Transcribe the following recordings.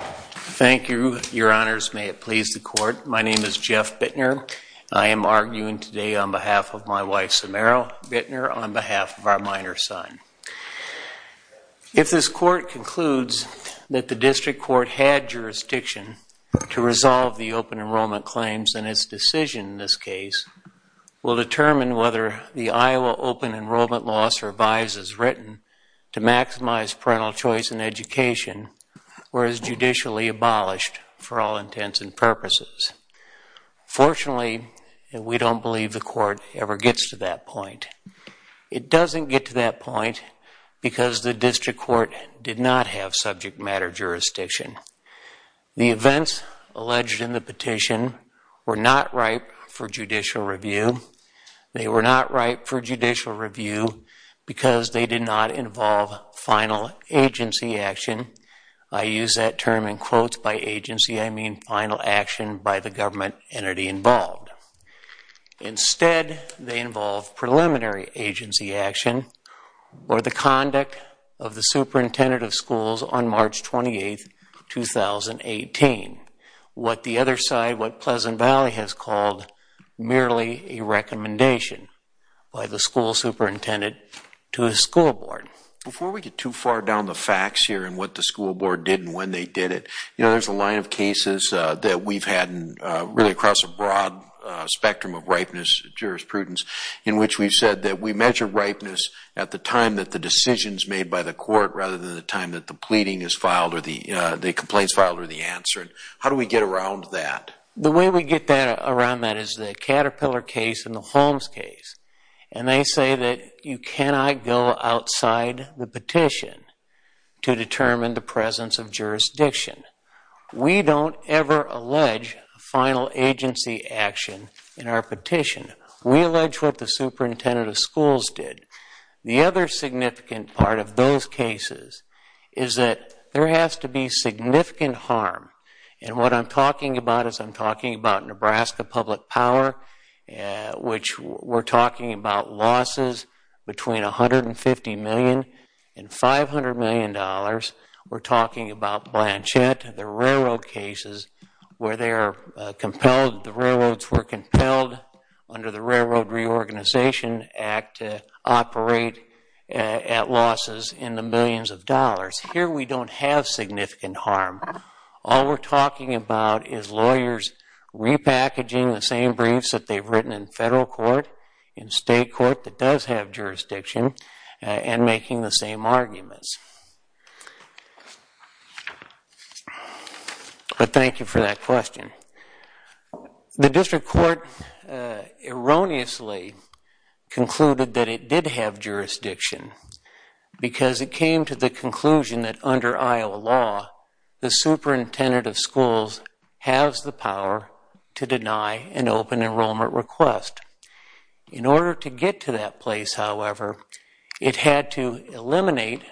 Thank you, Your Honors. May it please the Court. My name is Jeff Bittner. I am arguing today on behalf of my wife, Samera Bittner, on behalf of our minor son. If this Court concludes that the District Court had jurisdiction to resolve the open enrollment claims, then its decision in this case will determine whether the Iowa Open Enrollment Law survives as written to maximize parental choice in education or is judicially abolished for all intents and purposes. Fortunately, we don't believe the Court ever gets to that point. It doesn't get to that point because the District Court did not have subject matter jurisdiction. The events alleged in the petition were not ripe for judicial review. They were not ripe for judicial review because they did not involve final agency action. I use that term in quotes by agency. I mean final action by the government entity involved. Instead, they involved preliminary agency action or the conduct of the superintendent of schools on March 28, 2018. What the other school superintendent told the school board. Before we get too far down the facts here and what the school board did and when they did it, there's a line of cases that we've had really across a broad spectrum of ripeness jurisprudence in which we've said that we measure ripeness at the time that the decision is made by the Court rather than the time that the pleading is filed or the complaint is filed or the answer. How do we get around that? The way we get around that is the Caterpillar case and the Holmes case. They say that you cannot go outside the petition to determine the presence of jurisdiction. We don't ever allege final agency action in our petition. We allege what the superintendent of schools did. The other significant part of those cases is that there has to be significant harm. What I'm talking about is I'm talking about Nebraska Public Power, which we're talking about losses between $150 million and $500 million. We're talking about Blanchette, the railroad cases where they are compelled, the railroads were compelled under the Railroad Reorganization Act to operate at losses in the millions of dollars. Here we don't have significant harm. All we're talking about is lawyers repackaging the same briefs that they've written in federal court, in state court that does have jurisdiction, and making the same arguments. But thank you for that question. The District Court erroneously concluded that it did have jurisdiction because it came to the conclusion that under Iowa law, the superintendent of schools has the power to deny an open enrollment request. In order to get to that place, however, it had to eliminate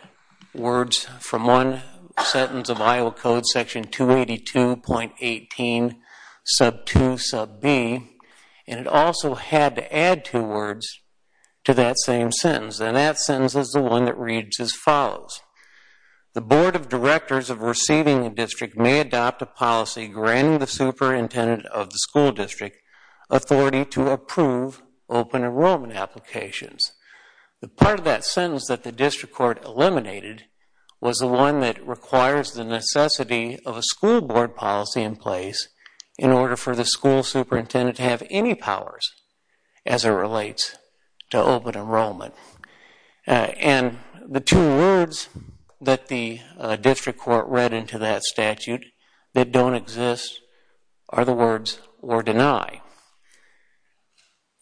words from one sentence of Iowa Code section 282.18 sub 2 sub b, and it also had to add two words to that same sentence. It follows, the board of directors of receiving a district may adopt a policy granting the superintendent of the school district authority to approve open enrollment applications. The part of that sentence that the District Court eliminated was the one that requires the necessity of a school board policy in place in order for the school superintendent to have any powers as it relates to open enrollment. And the two words that the District Court read into that statute that don't exist are the words or deny.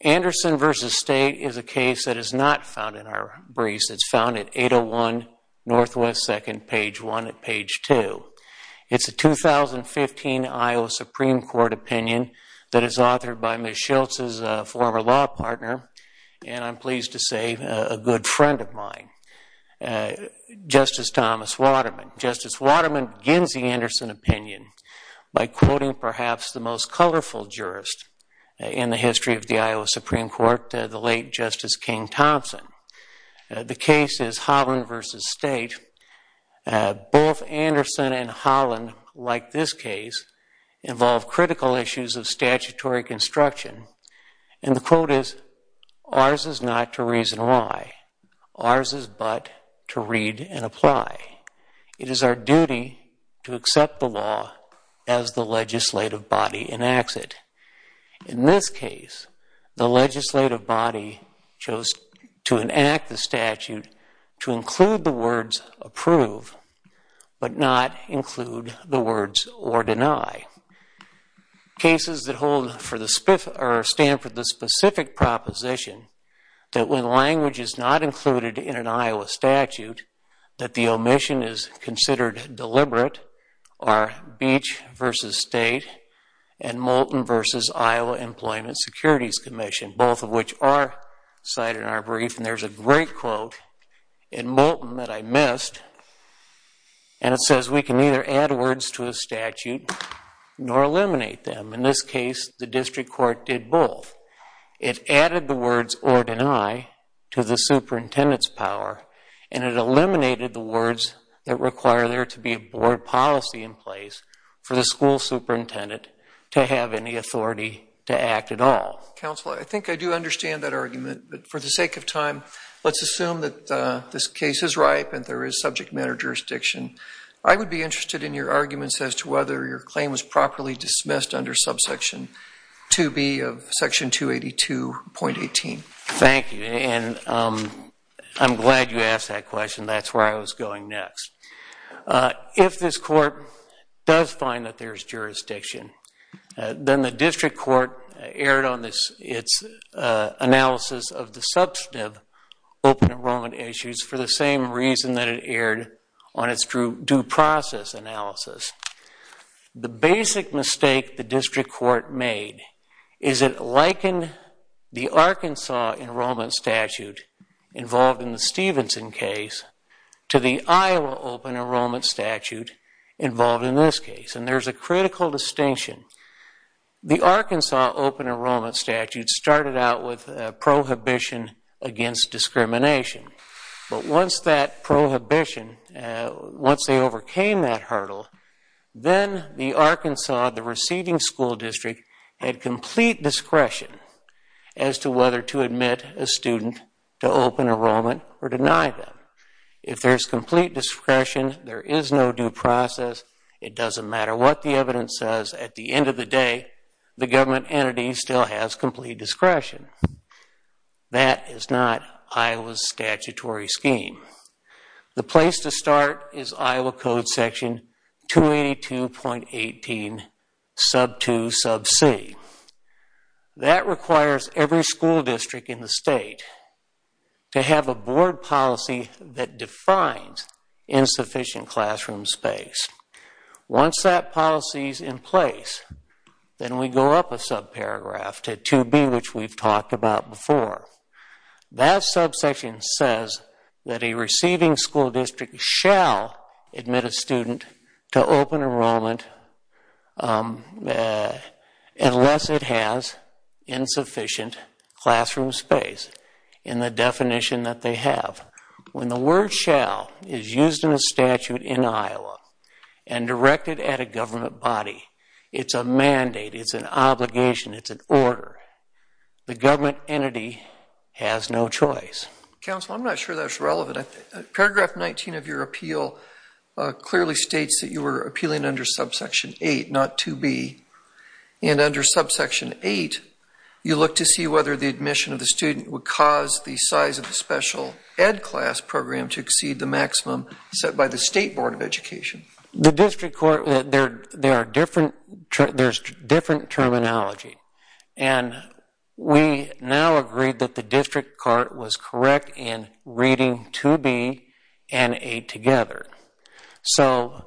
Anderson v. State is a case that is not found in our briefs. It's found at 801 Northwest 2nd, page 1 at page 2. It's a 2015 Iowa Supreme Court opinion that is authored by Ms. Schultz's former law partner, and I'm pleased to say a good friend of mine, Justice Thomas Waterman. Justice Waterman begins the Anderson opinion by quoting perhaps the most colorful jurist in the history of the Iowa Supreme Court, the late Justice King Thompson. The case is Holland v. State. Both Anderson and Holland, like this case, involve critical issues of statutory construction, and the quote is, ours is not to reason why. Ours is but to read and apply. It is our duty to accept the law as the legislative body enacts it. In this case, the legislative body chose to enact the statute to include the words approve, but not include the words or deny. Cases that stand for the specific proposition that when language is not included in an Iowa statute that the omission is considered deliberate are Beach v. State and Moulton v. Iowa Employment and Securities Commission, both of which are cited in our brief, and there's a great quote in Moulton that I missed, and it says we can neither add words to a statute nor eliminate them. In this case, the district court did both. It added the words or deny to the superintendent's power, and it eliminated the words that require there to be a board policy in place for the school superintendent to have any authority to act at all. Counsel, I think I do understand that argument, but for the sake of time, let's assume that this case is ripe and there is subject matter jurisdiction. I would be interested in your arguments as to whether your claim was properly dismissed under subsection 2B of section 282.18. Thank you, and I'm glad you asked that question. That's where I was going next. If this court does find that there's jurisdiction, then the district court erred on its analysis of the substantive open enrollment issues for the same reason that it erred on its due process analysis. The basic mistake the district court made is it likened the Arkansas statute to the Arkansas enrollment statute involved in the Stevenson case to the Iowa open enrollment statute involved in this case, and there's a critical distinction. The Arkansas open enrollment statute started out with a prohibition against discrimination, but once that prohibition, once they overcame that hurdle, then the Arkansas, the receding school district, had complete discretion as to whether to admit a student to open enrollment or deny them. If there's complete discretion, there is no due process. It doesn't matter what the evidence says. At the end of the day, the government entity still has complete discretion. That is not Iowa's statutory scheme. The place to start is Iowa Code section 282.18 sub 2 sub c. That requires every school district in the state to have a board policy that defines insufficient classroom space. Once that policy is in place, then we go up a sub paragraph to 2b, which we've talked about before. That sub section says that a receiving school district shall admit a student to open enrollment unless it has sufficient classroom space. That's insufficient classroom space in the definition that they have. When the word shall is used in a statute in Iowa and directed at a government body, it's a mandate, it's an obligation, it's an order. The government entity has no choice. Counsel, I'm not sure that's relevant. Paragraph 19 of your appeal clearly states that you were appealing under sub section 8, not 2b. Under sub section 8, you look to see whether the admission of the student would cause the size of the special ed class program to exceed the maximum set by the state board of education. The district court, there's different terminology. We now agree that the district court was correct in reading 2b and 8 together. The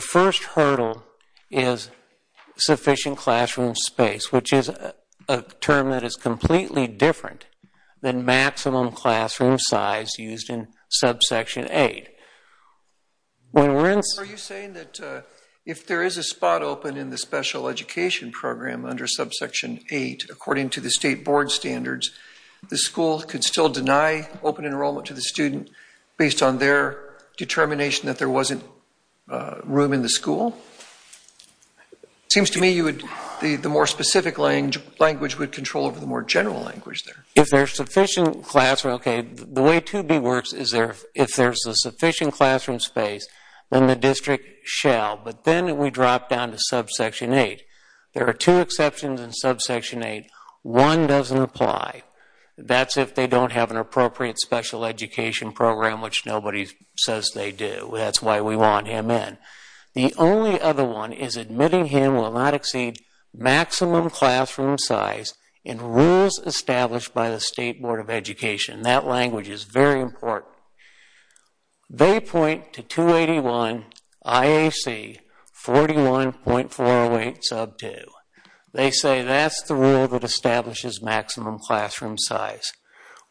first hurdle is sufficient classroom space, which is a term that is completely different than maximum classroom size used in sub section 8. If there is a spot open in the special education program under sub section 8, according to the state board standards, the school could still deny open enrollment to the student based on their determination that there wasn't room in the school. It seems to me the more specific language would control over the more general language there. If there's sufficient classroom, okay, the way 2b works is if there's a sufficient classroom space, then the district shall, but then we drop down to sub section 8. There are two exceptions in sub section 8. One doesn't apply. That's if they don't have an appropriate special education program, which nobody says they do. That's why we want him in. The only other one is admitting him will not exceed maximum classroom size in rules established by the state board of education. That language is very important. They point to 281 IAC 41.408 sub 2. They say that's the rule that establishes maximum classroom size.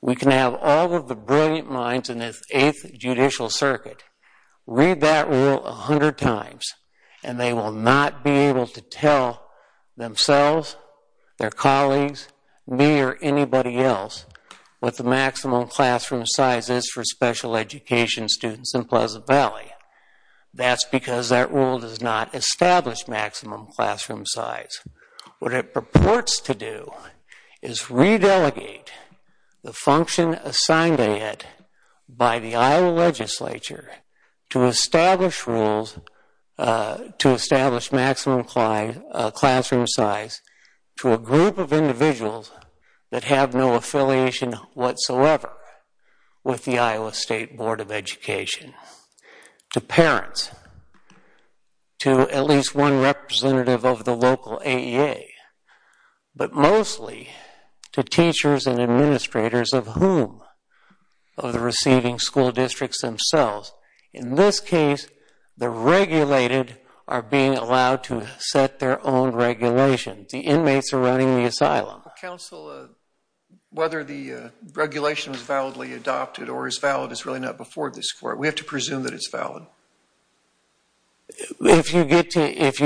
We can have all of the brilliant minds in the 8th judicial circuit read that rule 100 times and they will not be able to tell themselves, their colleagues, me or anybody else what the maximum classroom size is for special education students in Pleasant Valley. That's because that rule does not establish maximum classroom size. What it purports to do is re-delegate the function assigned to it by the Iowa legislature to establish rules to establish maximum classroom size to a group of individuals that have no affiliation whatsoever with the Iowa State Board of Education, to parents, to at least one representative of the local AEA, but mostly to teachers and administrators of whom of the receiving school districts themselves. In this case, the regulated are being allowed to set their own regulations. The inmates are running the asylum. Counsel, whether the regulation is validly adopted or is valid is really not before this court. We have to presume that it's valid. If you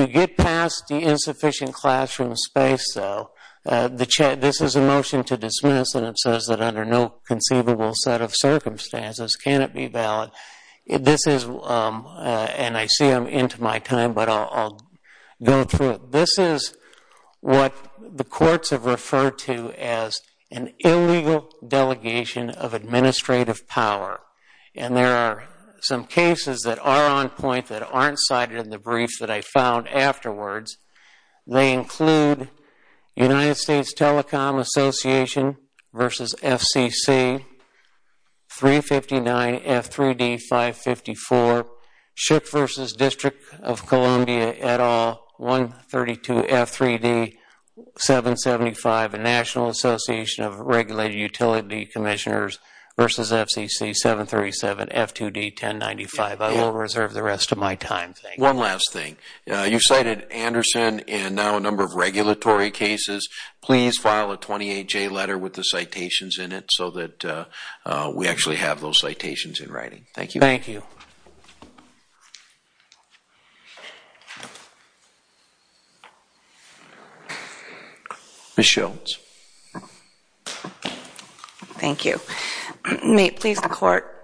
get past the insufficient classroom space, though, this is a motion to dismiss and it says that under no conceivable set of circumstances can it be valid. This is and I see I'm into my time, but I'll go through it. This is what the courts have referred to as an illegal delegation of administrative power. There are some cases that are on point that aren't cited in the brief that I found afterwards. They include United States Telecom Association v. FCC, 359 F3D 554, Schick v. District of Columbia et al., 132 F3D 775, and National Association of Regulated Utility Commissioners v. FCC, 737 F2D 1095. I will reserve the rest of my time. One last thing. You cited Anderson and now a number of regulatory cases. Please file a 28-J letter with the citations in it so that we actually have those citations in writing. Thank you. Thank you. Ms. Shultz. Thank you. May it please the court,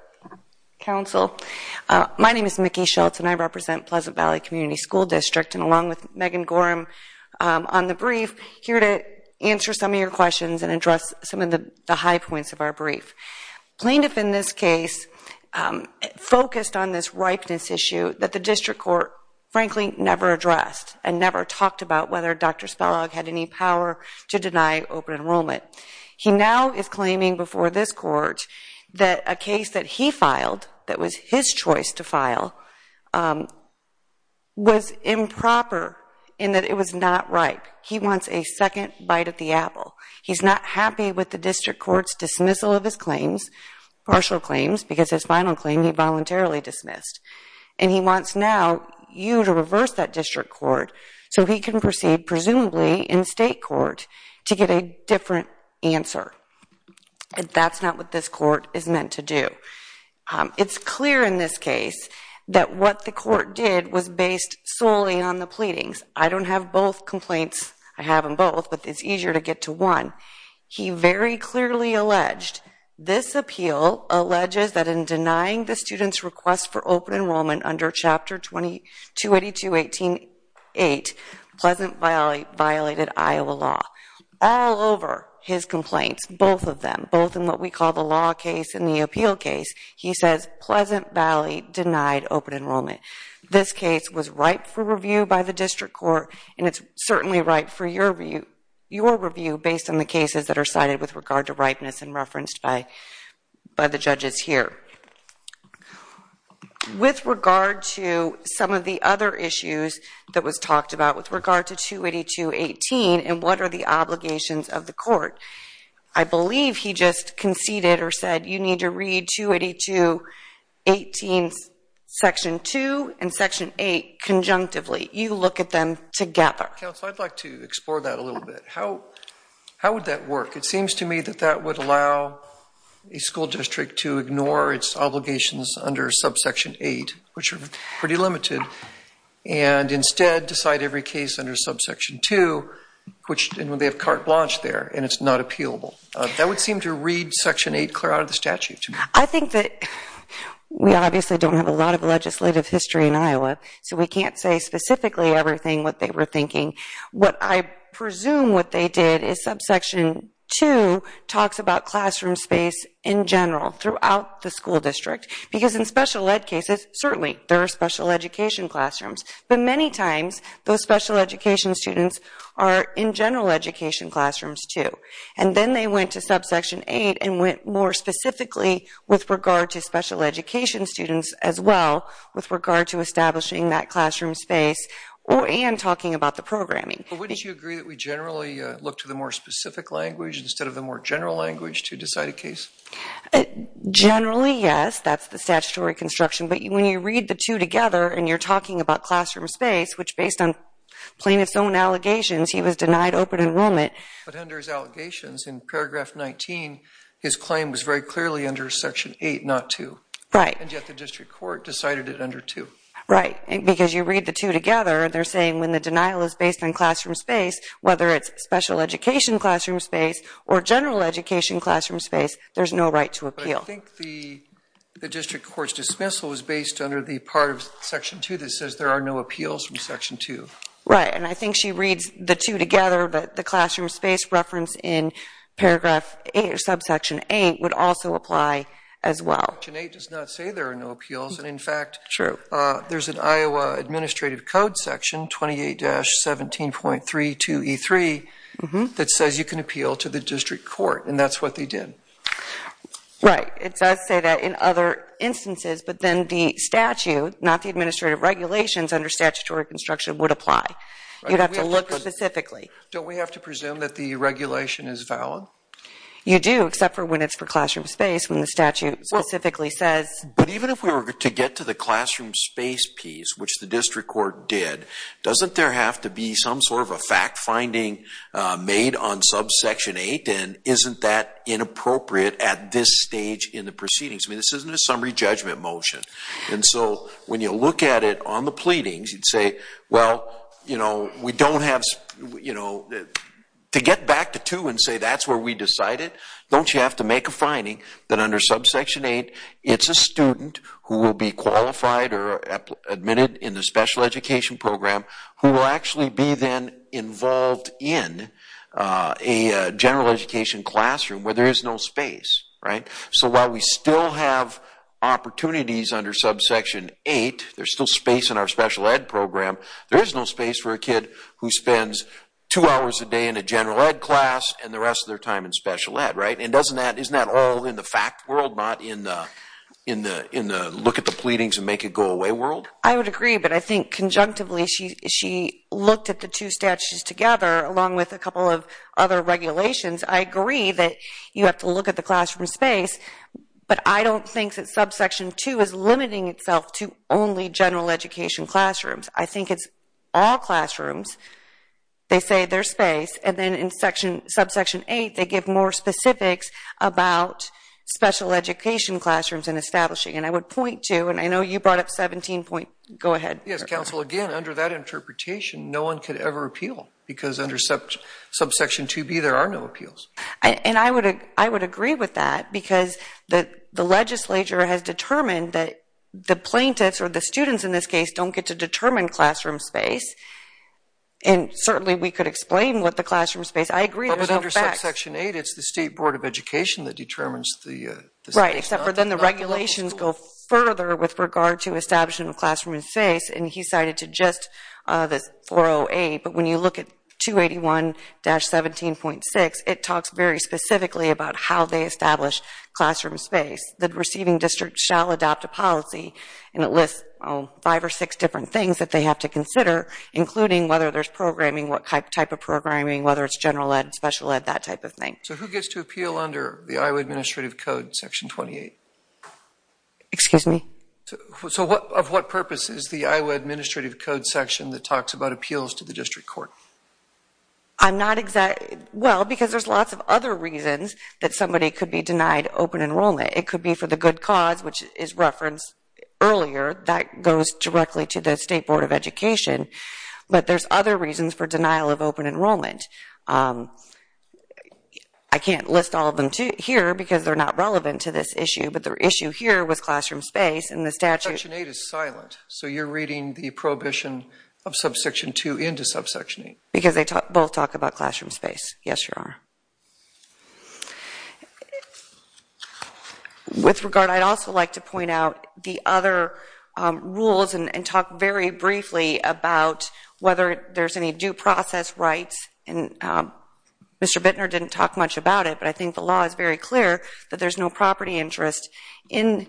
counsel, my name is Mickey Shultz and I represent Pleasant Valley Community School District and along with Megan Gorham on the brief here to answer some of your questions and address some of the high points of our brief. Plaintiff in this case focused on this ripeness issue that the district court, frankly, never addressed and never talked about whether Dr. Spelog had any power to deny open enrollment. He now is claiming before this court that a case that he filed that was his choice to file was improper in that it was not ripe. He wants a second bite at the apple. He's not happy with the district court's dismissal of his claims, partial claims, because his claim is not in the district court. So he can proceed presumably in state court to get a different answer. That's not what this court is meant to do. It's clear in this case that what the court did was based solely on the pleadings. I don't have both complaints. I have them both, but it's easier to get to one. He very clearly alleged this appeal alleges that in denying the student's request for open enrollment under Chapter 282.18.8, Pleasant Valley violated Iowa law. All over his complaints, both of them, both in what we call the law case and the appeal case, he says Pleasant Valley denied open enrollment. This case was ripe for review by the district court, and it's certainly ripe for your review based on the cases that are cited with regard to ripeness and referenced by the judges here. With regard to some of the other issues that was talked about with regard to 282.18 and what are the obligations of the court, I believe he just conceded or said you need to read 282.18 Section 2 and Section 8 conjunctively. You look at them together. Counsel, I'd like to explore that a little bit. How would that work? It seems to me that would allow a school district to ignore its obligations under Subsection 8, which are pretty limited, and instead decide every case under Subsection 2, which they have carte blanche there, and it's not appealable. That would seem to read Section 8 clear out of the statute to me. I think that we obviously don't have a lot of legislative history in Iowa, so we can't say specifically everything what they were thinking. What I presume what they did is Subsection 2 talks about classroom space in general throughout the school district because in special ed cases, certainly there are special education classrooms, but many times those special education students are in general education classrooms too. And then they went to Subsection 8 and went more specifically with regard to special education students as well with regard to establishing that classroom space and talking about the programming. Wouldn't you agree that we generally look to the more specific language instead of the more general language to decide a case? Generally, yes. That's the statutory construction. But when you read the two together and you're talking about classroom space, which based on plaintiff's own allegations, he was denied open enrollment. But under his allegations in Paragraph 19, his claim was very clearly under Section 8, not 2. Right. And yet the district court decided it under 2. Right. Because you read the two together, they're saying when the denial is based on classroom space, whether it's special education classroom space or general education classroom space, there's no right to appeal. But I think the district court's dismissal was based under the part of Section 2 that says there are no appeals from Section 2. Right. And I think she reads the two together, but the classroom space reference in Paragraph 8 or Subsection 8 would also apply as well. Section 8 does not say there are no appeals. And in fact, there's an Iowa Administrative Code Section 28-17.32E3 that says you can appeal to the district court. And that's what they did. Right. It does say that in other instances. But then the statute, not the administrative regulations under statutory construction, would apply. You'd have to look specifically. Don't we have to presume that the regulation is valid? You do, except for when it's for classroom space, when the statute specifically says... But even if we were to get to the classroom space piece, which the district court did, doesn't there have to be some sort of a fact finding made on Subsection 8? And isn't that inappropriate at this stage in the proceedings? I mean, this isn't a summary judgment motion. And so when you look at it on the pleadings, you'd say, well, you know, we don't have... To get back to 2 and say that's where we decided, don't you have to make a finding that under Subsection 8, it's a student who will be qualified or admitted in the special education program who will actually be then involved in a general education classroom where there is no space. Right? So while we still have opportunities under Subsection 8, there's still space in our special ed program, there is no space for a kid who spends two hours a day in a general ed class and the rest of their time in special ed. Right? And doesn't that... Isn't that all in the fact world, not in the look at the pleadings and make it go away world? I would agree, but I think conjunctively she looked at the two statutes together along with a couple of other regulations. I agree that you have to look at the classroom space, but I don't think that Subsection 2 is limiting itself to only general education classrooms. I think it's all classrooms. They say there's space. And then in Subsection 8, they give more specifics about special education classrooms and establishing. And I would point to, and I know you brought up 17 point... Go ahead. Yes, counsel. Again, under that interpretation, no one could ever appeal because under Subsection 2B, there are no appeals. And I would agree with that because the legislature has determined that the plaintiffs or the students in this case don't get to determine classroom space. And certainly we could explain what the classroom space... I agree there's no facts. But in Subsection 8, it's the State Board of Education that determines the space. Right, except for then the regulations go further with regard to establishment of classroom space. And he cited to just this 408, but when you look at 281-17.6, it talks very specifically about how they establish classroom space. The receiving district shall adopt a policy and it lists five or six different things that they have to consider, including whether there's programming, what type of programming, whether it's general ed, special ed, that type of thing. So who gets to appeal under the Iowa Administrative Code, Section 28? Excuse me? So of what purpose is the Iowa Administrative Code section that talks about appeals to the district court? I'm not exactly... Well, because there's lots of other reasons that somebody could be denied open enrollment. It could be for the good cause, which is referenced earlier. That goes directly to the State Board of Education. But there's other reasons for denial of open enrollment. I can't list all of them here because they're not relevant to this issue, but the issue here was classroom space and the statute... Section 8 is silent. So you're reading the prohibition of subsection 2 into subsection 8. Because they both talk about classroom space. Yes, Your Honor. With regard, I'd also like to point out the other rules and talk very briefly about whether there's any due process rights. Mr. Bittner didn't talk much about it, but I think the law is very clear that there's no property interest in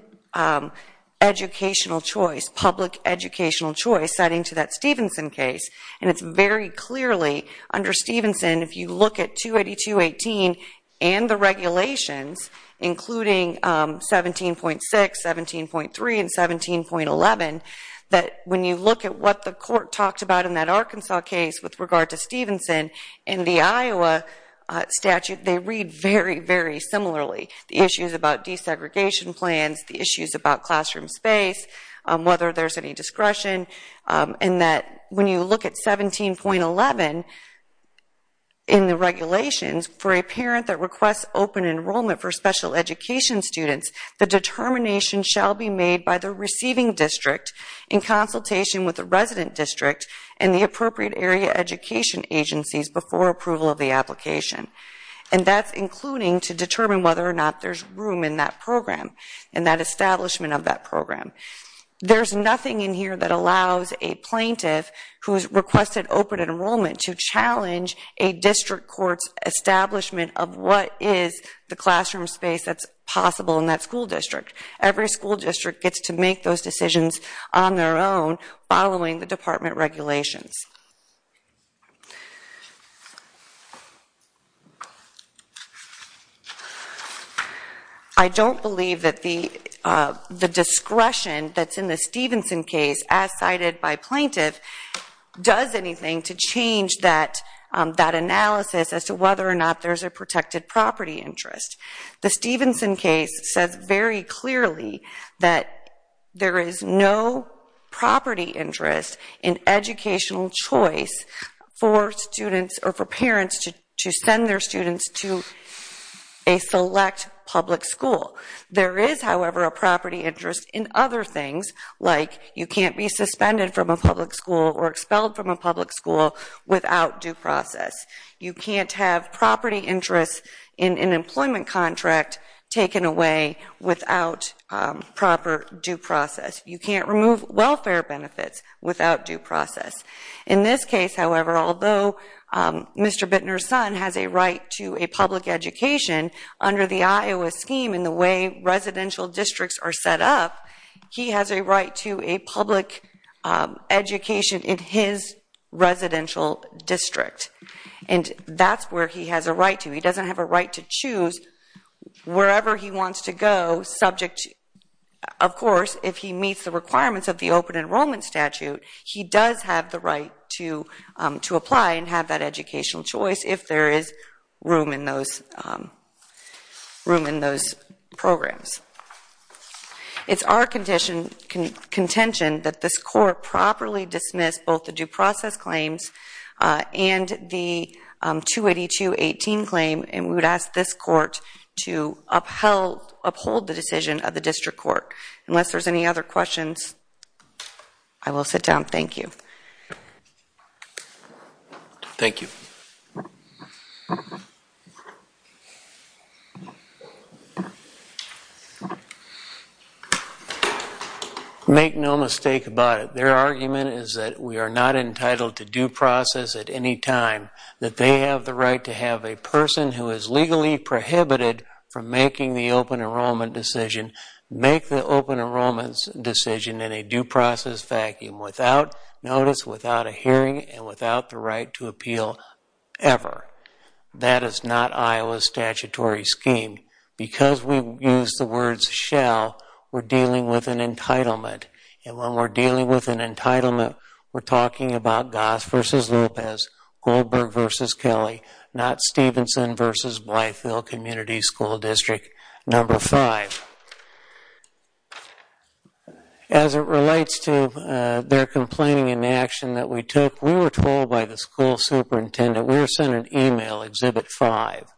educational choice, public educational choice, citing to that Stevenson case. And it's very clearly, under Stevenson, if you look at 282.18 and the regulations, including 17.6, 17.3, and 17.11, that when you look at what the court talked about in that Arkansas case with regard to Stevenson and the Iowa statute, they read very, very similarly. The issues about desegregation plans, the issues about classroom space, whether there's any discretion, and that when you look at 17.11 in the regulations, for a parent that requests open enrollment for special education students, the determination shall be made by the receiving district in consultation with the resident district and the appropriate area education agencies before approval of the application. And that's including to determine whether or not there's room in that program and that establishment of that program. There's nothing in here that allows a plaintiff who has requested open enrollment to challenge a district court's establishment of what is the classroom space that's possible in that school district. Every school district gets to make those decisions on their own, following the department regulations. I don't believe that the discretion that's in the Stevenson case, as cited by plaintiff, does anything to change that analysis as to whether or not there's a protected property interest. The Stevenson case says very clearly that there is no property interest in educational choice for students or for parents to send their students to a select public school. There is, however, a property interest in other things, like you can't be suspended from a public school or expelled from a public school without due process. You can't have an employment contract taken away without proper due process. You can't remove welfare benefits without due process. In this case, however, although Mr. Bittner's son has a right to a public education under the Iowa scheme in the way residential districts are set up, he has a right to a public education in his residential district. And that's where he has a right to. He doesn't have a right to choose wherever he wants to go subject to, of course, if he meets the requirements of the open enrollment statute, he does have the right to apply and have that educational choice if there is room in those programs. It's our contention that this Court properly dismiss both the due process claims and the 282.18 claim and we would ask this Court to uphold the decision of the District Court. Unless there's any other questions, I will sit down. Thank you. Make no mistake about it. Their argument is that we are not entitled to due process at any time, that they have the right to have a person who is legally prohibited from making the open enrollment decision make the open enrollment decision in a due process vacuum without notice, without a hearing, and without the right to appeal ever. That is not Iowa's statutory scheme. Because we use the words shall, we're dealing with an entitlement. And when we're dealing with an entitlement, we're talking about Goss versus Lopez, Goldberg versus Kelly, not Stevenson versus Blytheville Community School District number 5. As it relates to their complaining in the action that we took, we were told by the school superintendent, we were sent an email, Exhibit 5,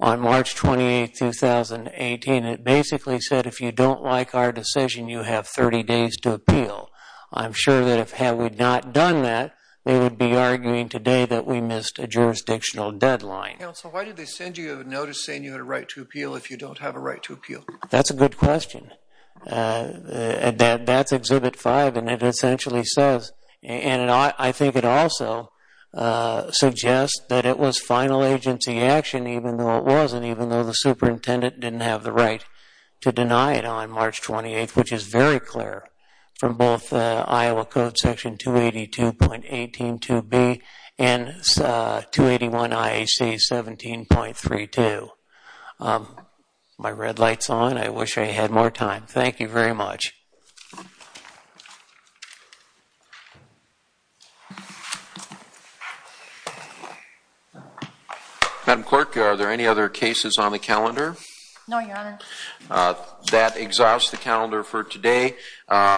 on March 28, 2018. It basically said if you don't like our decision, you have 30 days to appeal. I'm sure that if we had not done that, they would be arguing today that we missed a jurisdictional deadline. Counsel, why did they send you a notice saying you had a right to appeal if you don't have a right to appeal? That's a good question. That's Exhibit 5 and it essentially says, and I think it also suggests that it was final agency action even though it wasn't, even though the superintendent didn't have the right to deny it on March 28, which is very clear from both Iowa Code Section 282.18.2b and 281 IAC 17.32. My red light's on. I wish I had more time. Thank you very much. Madam Clerk, are there any other cases on the calendar? No, Your Honor. That exhausts the calendar for today.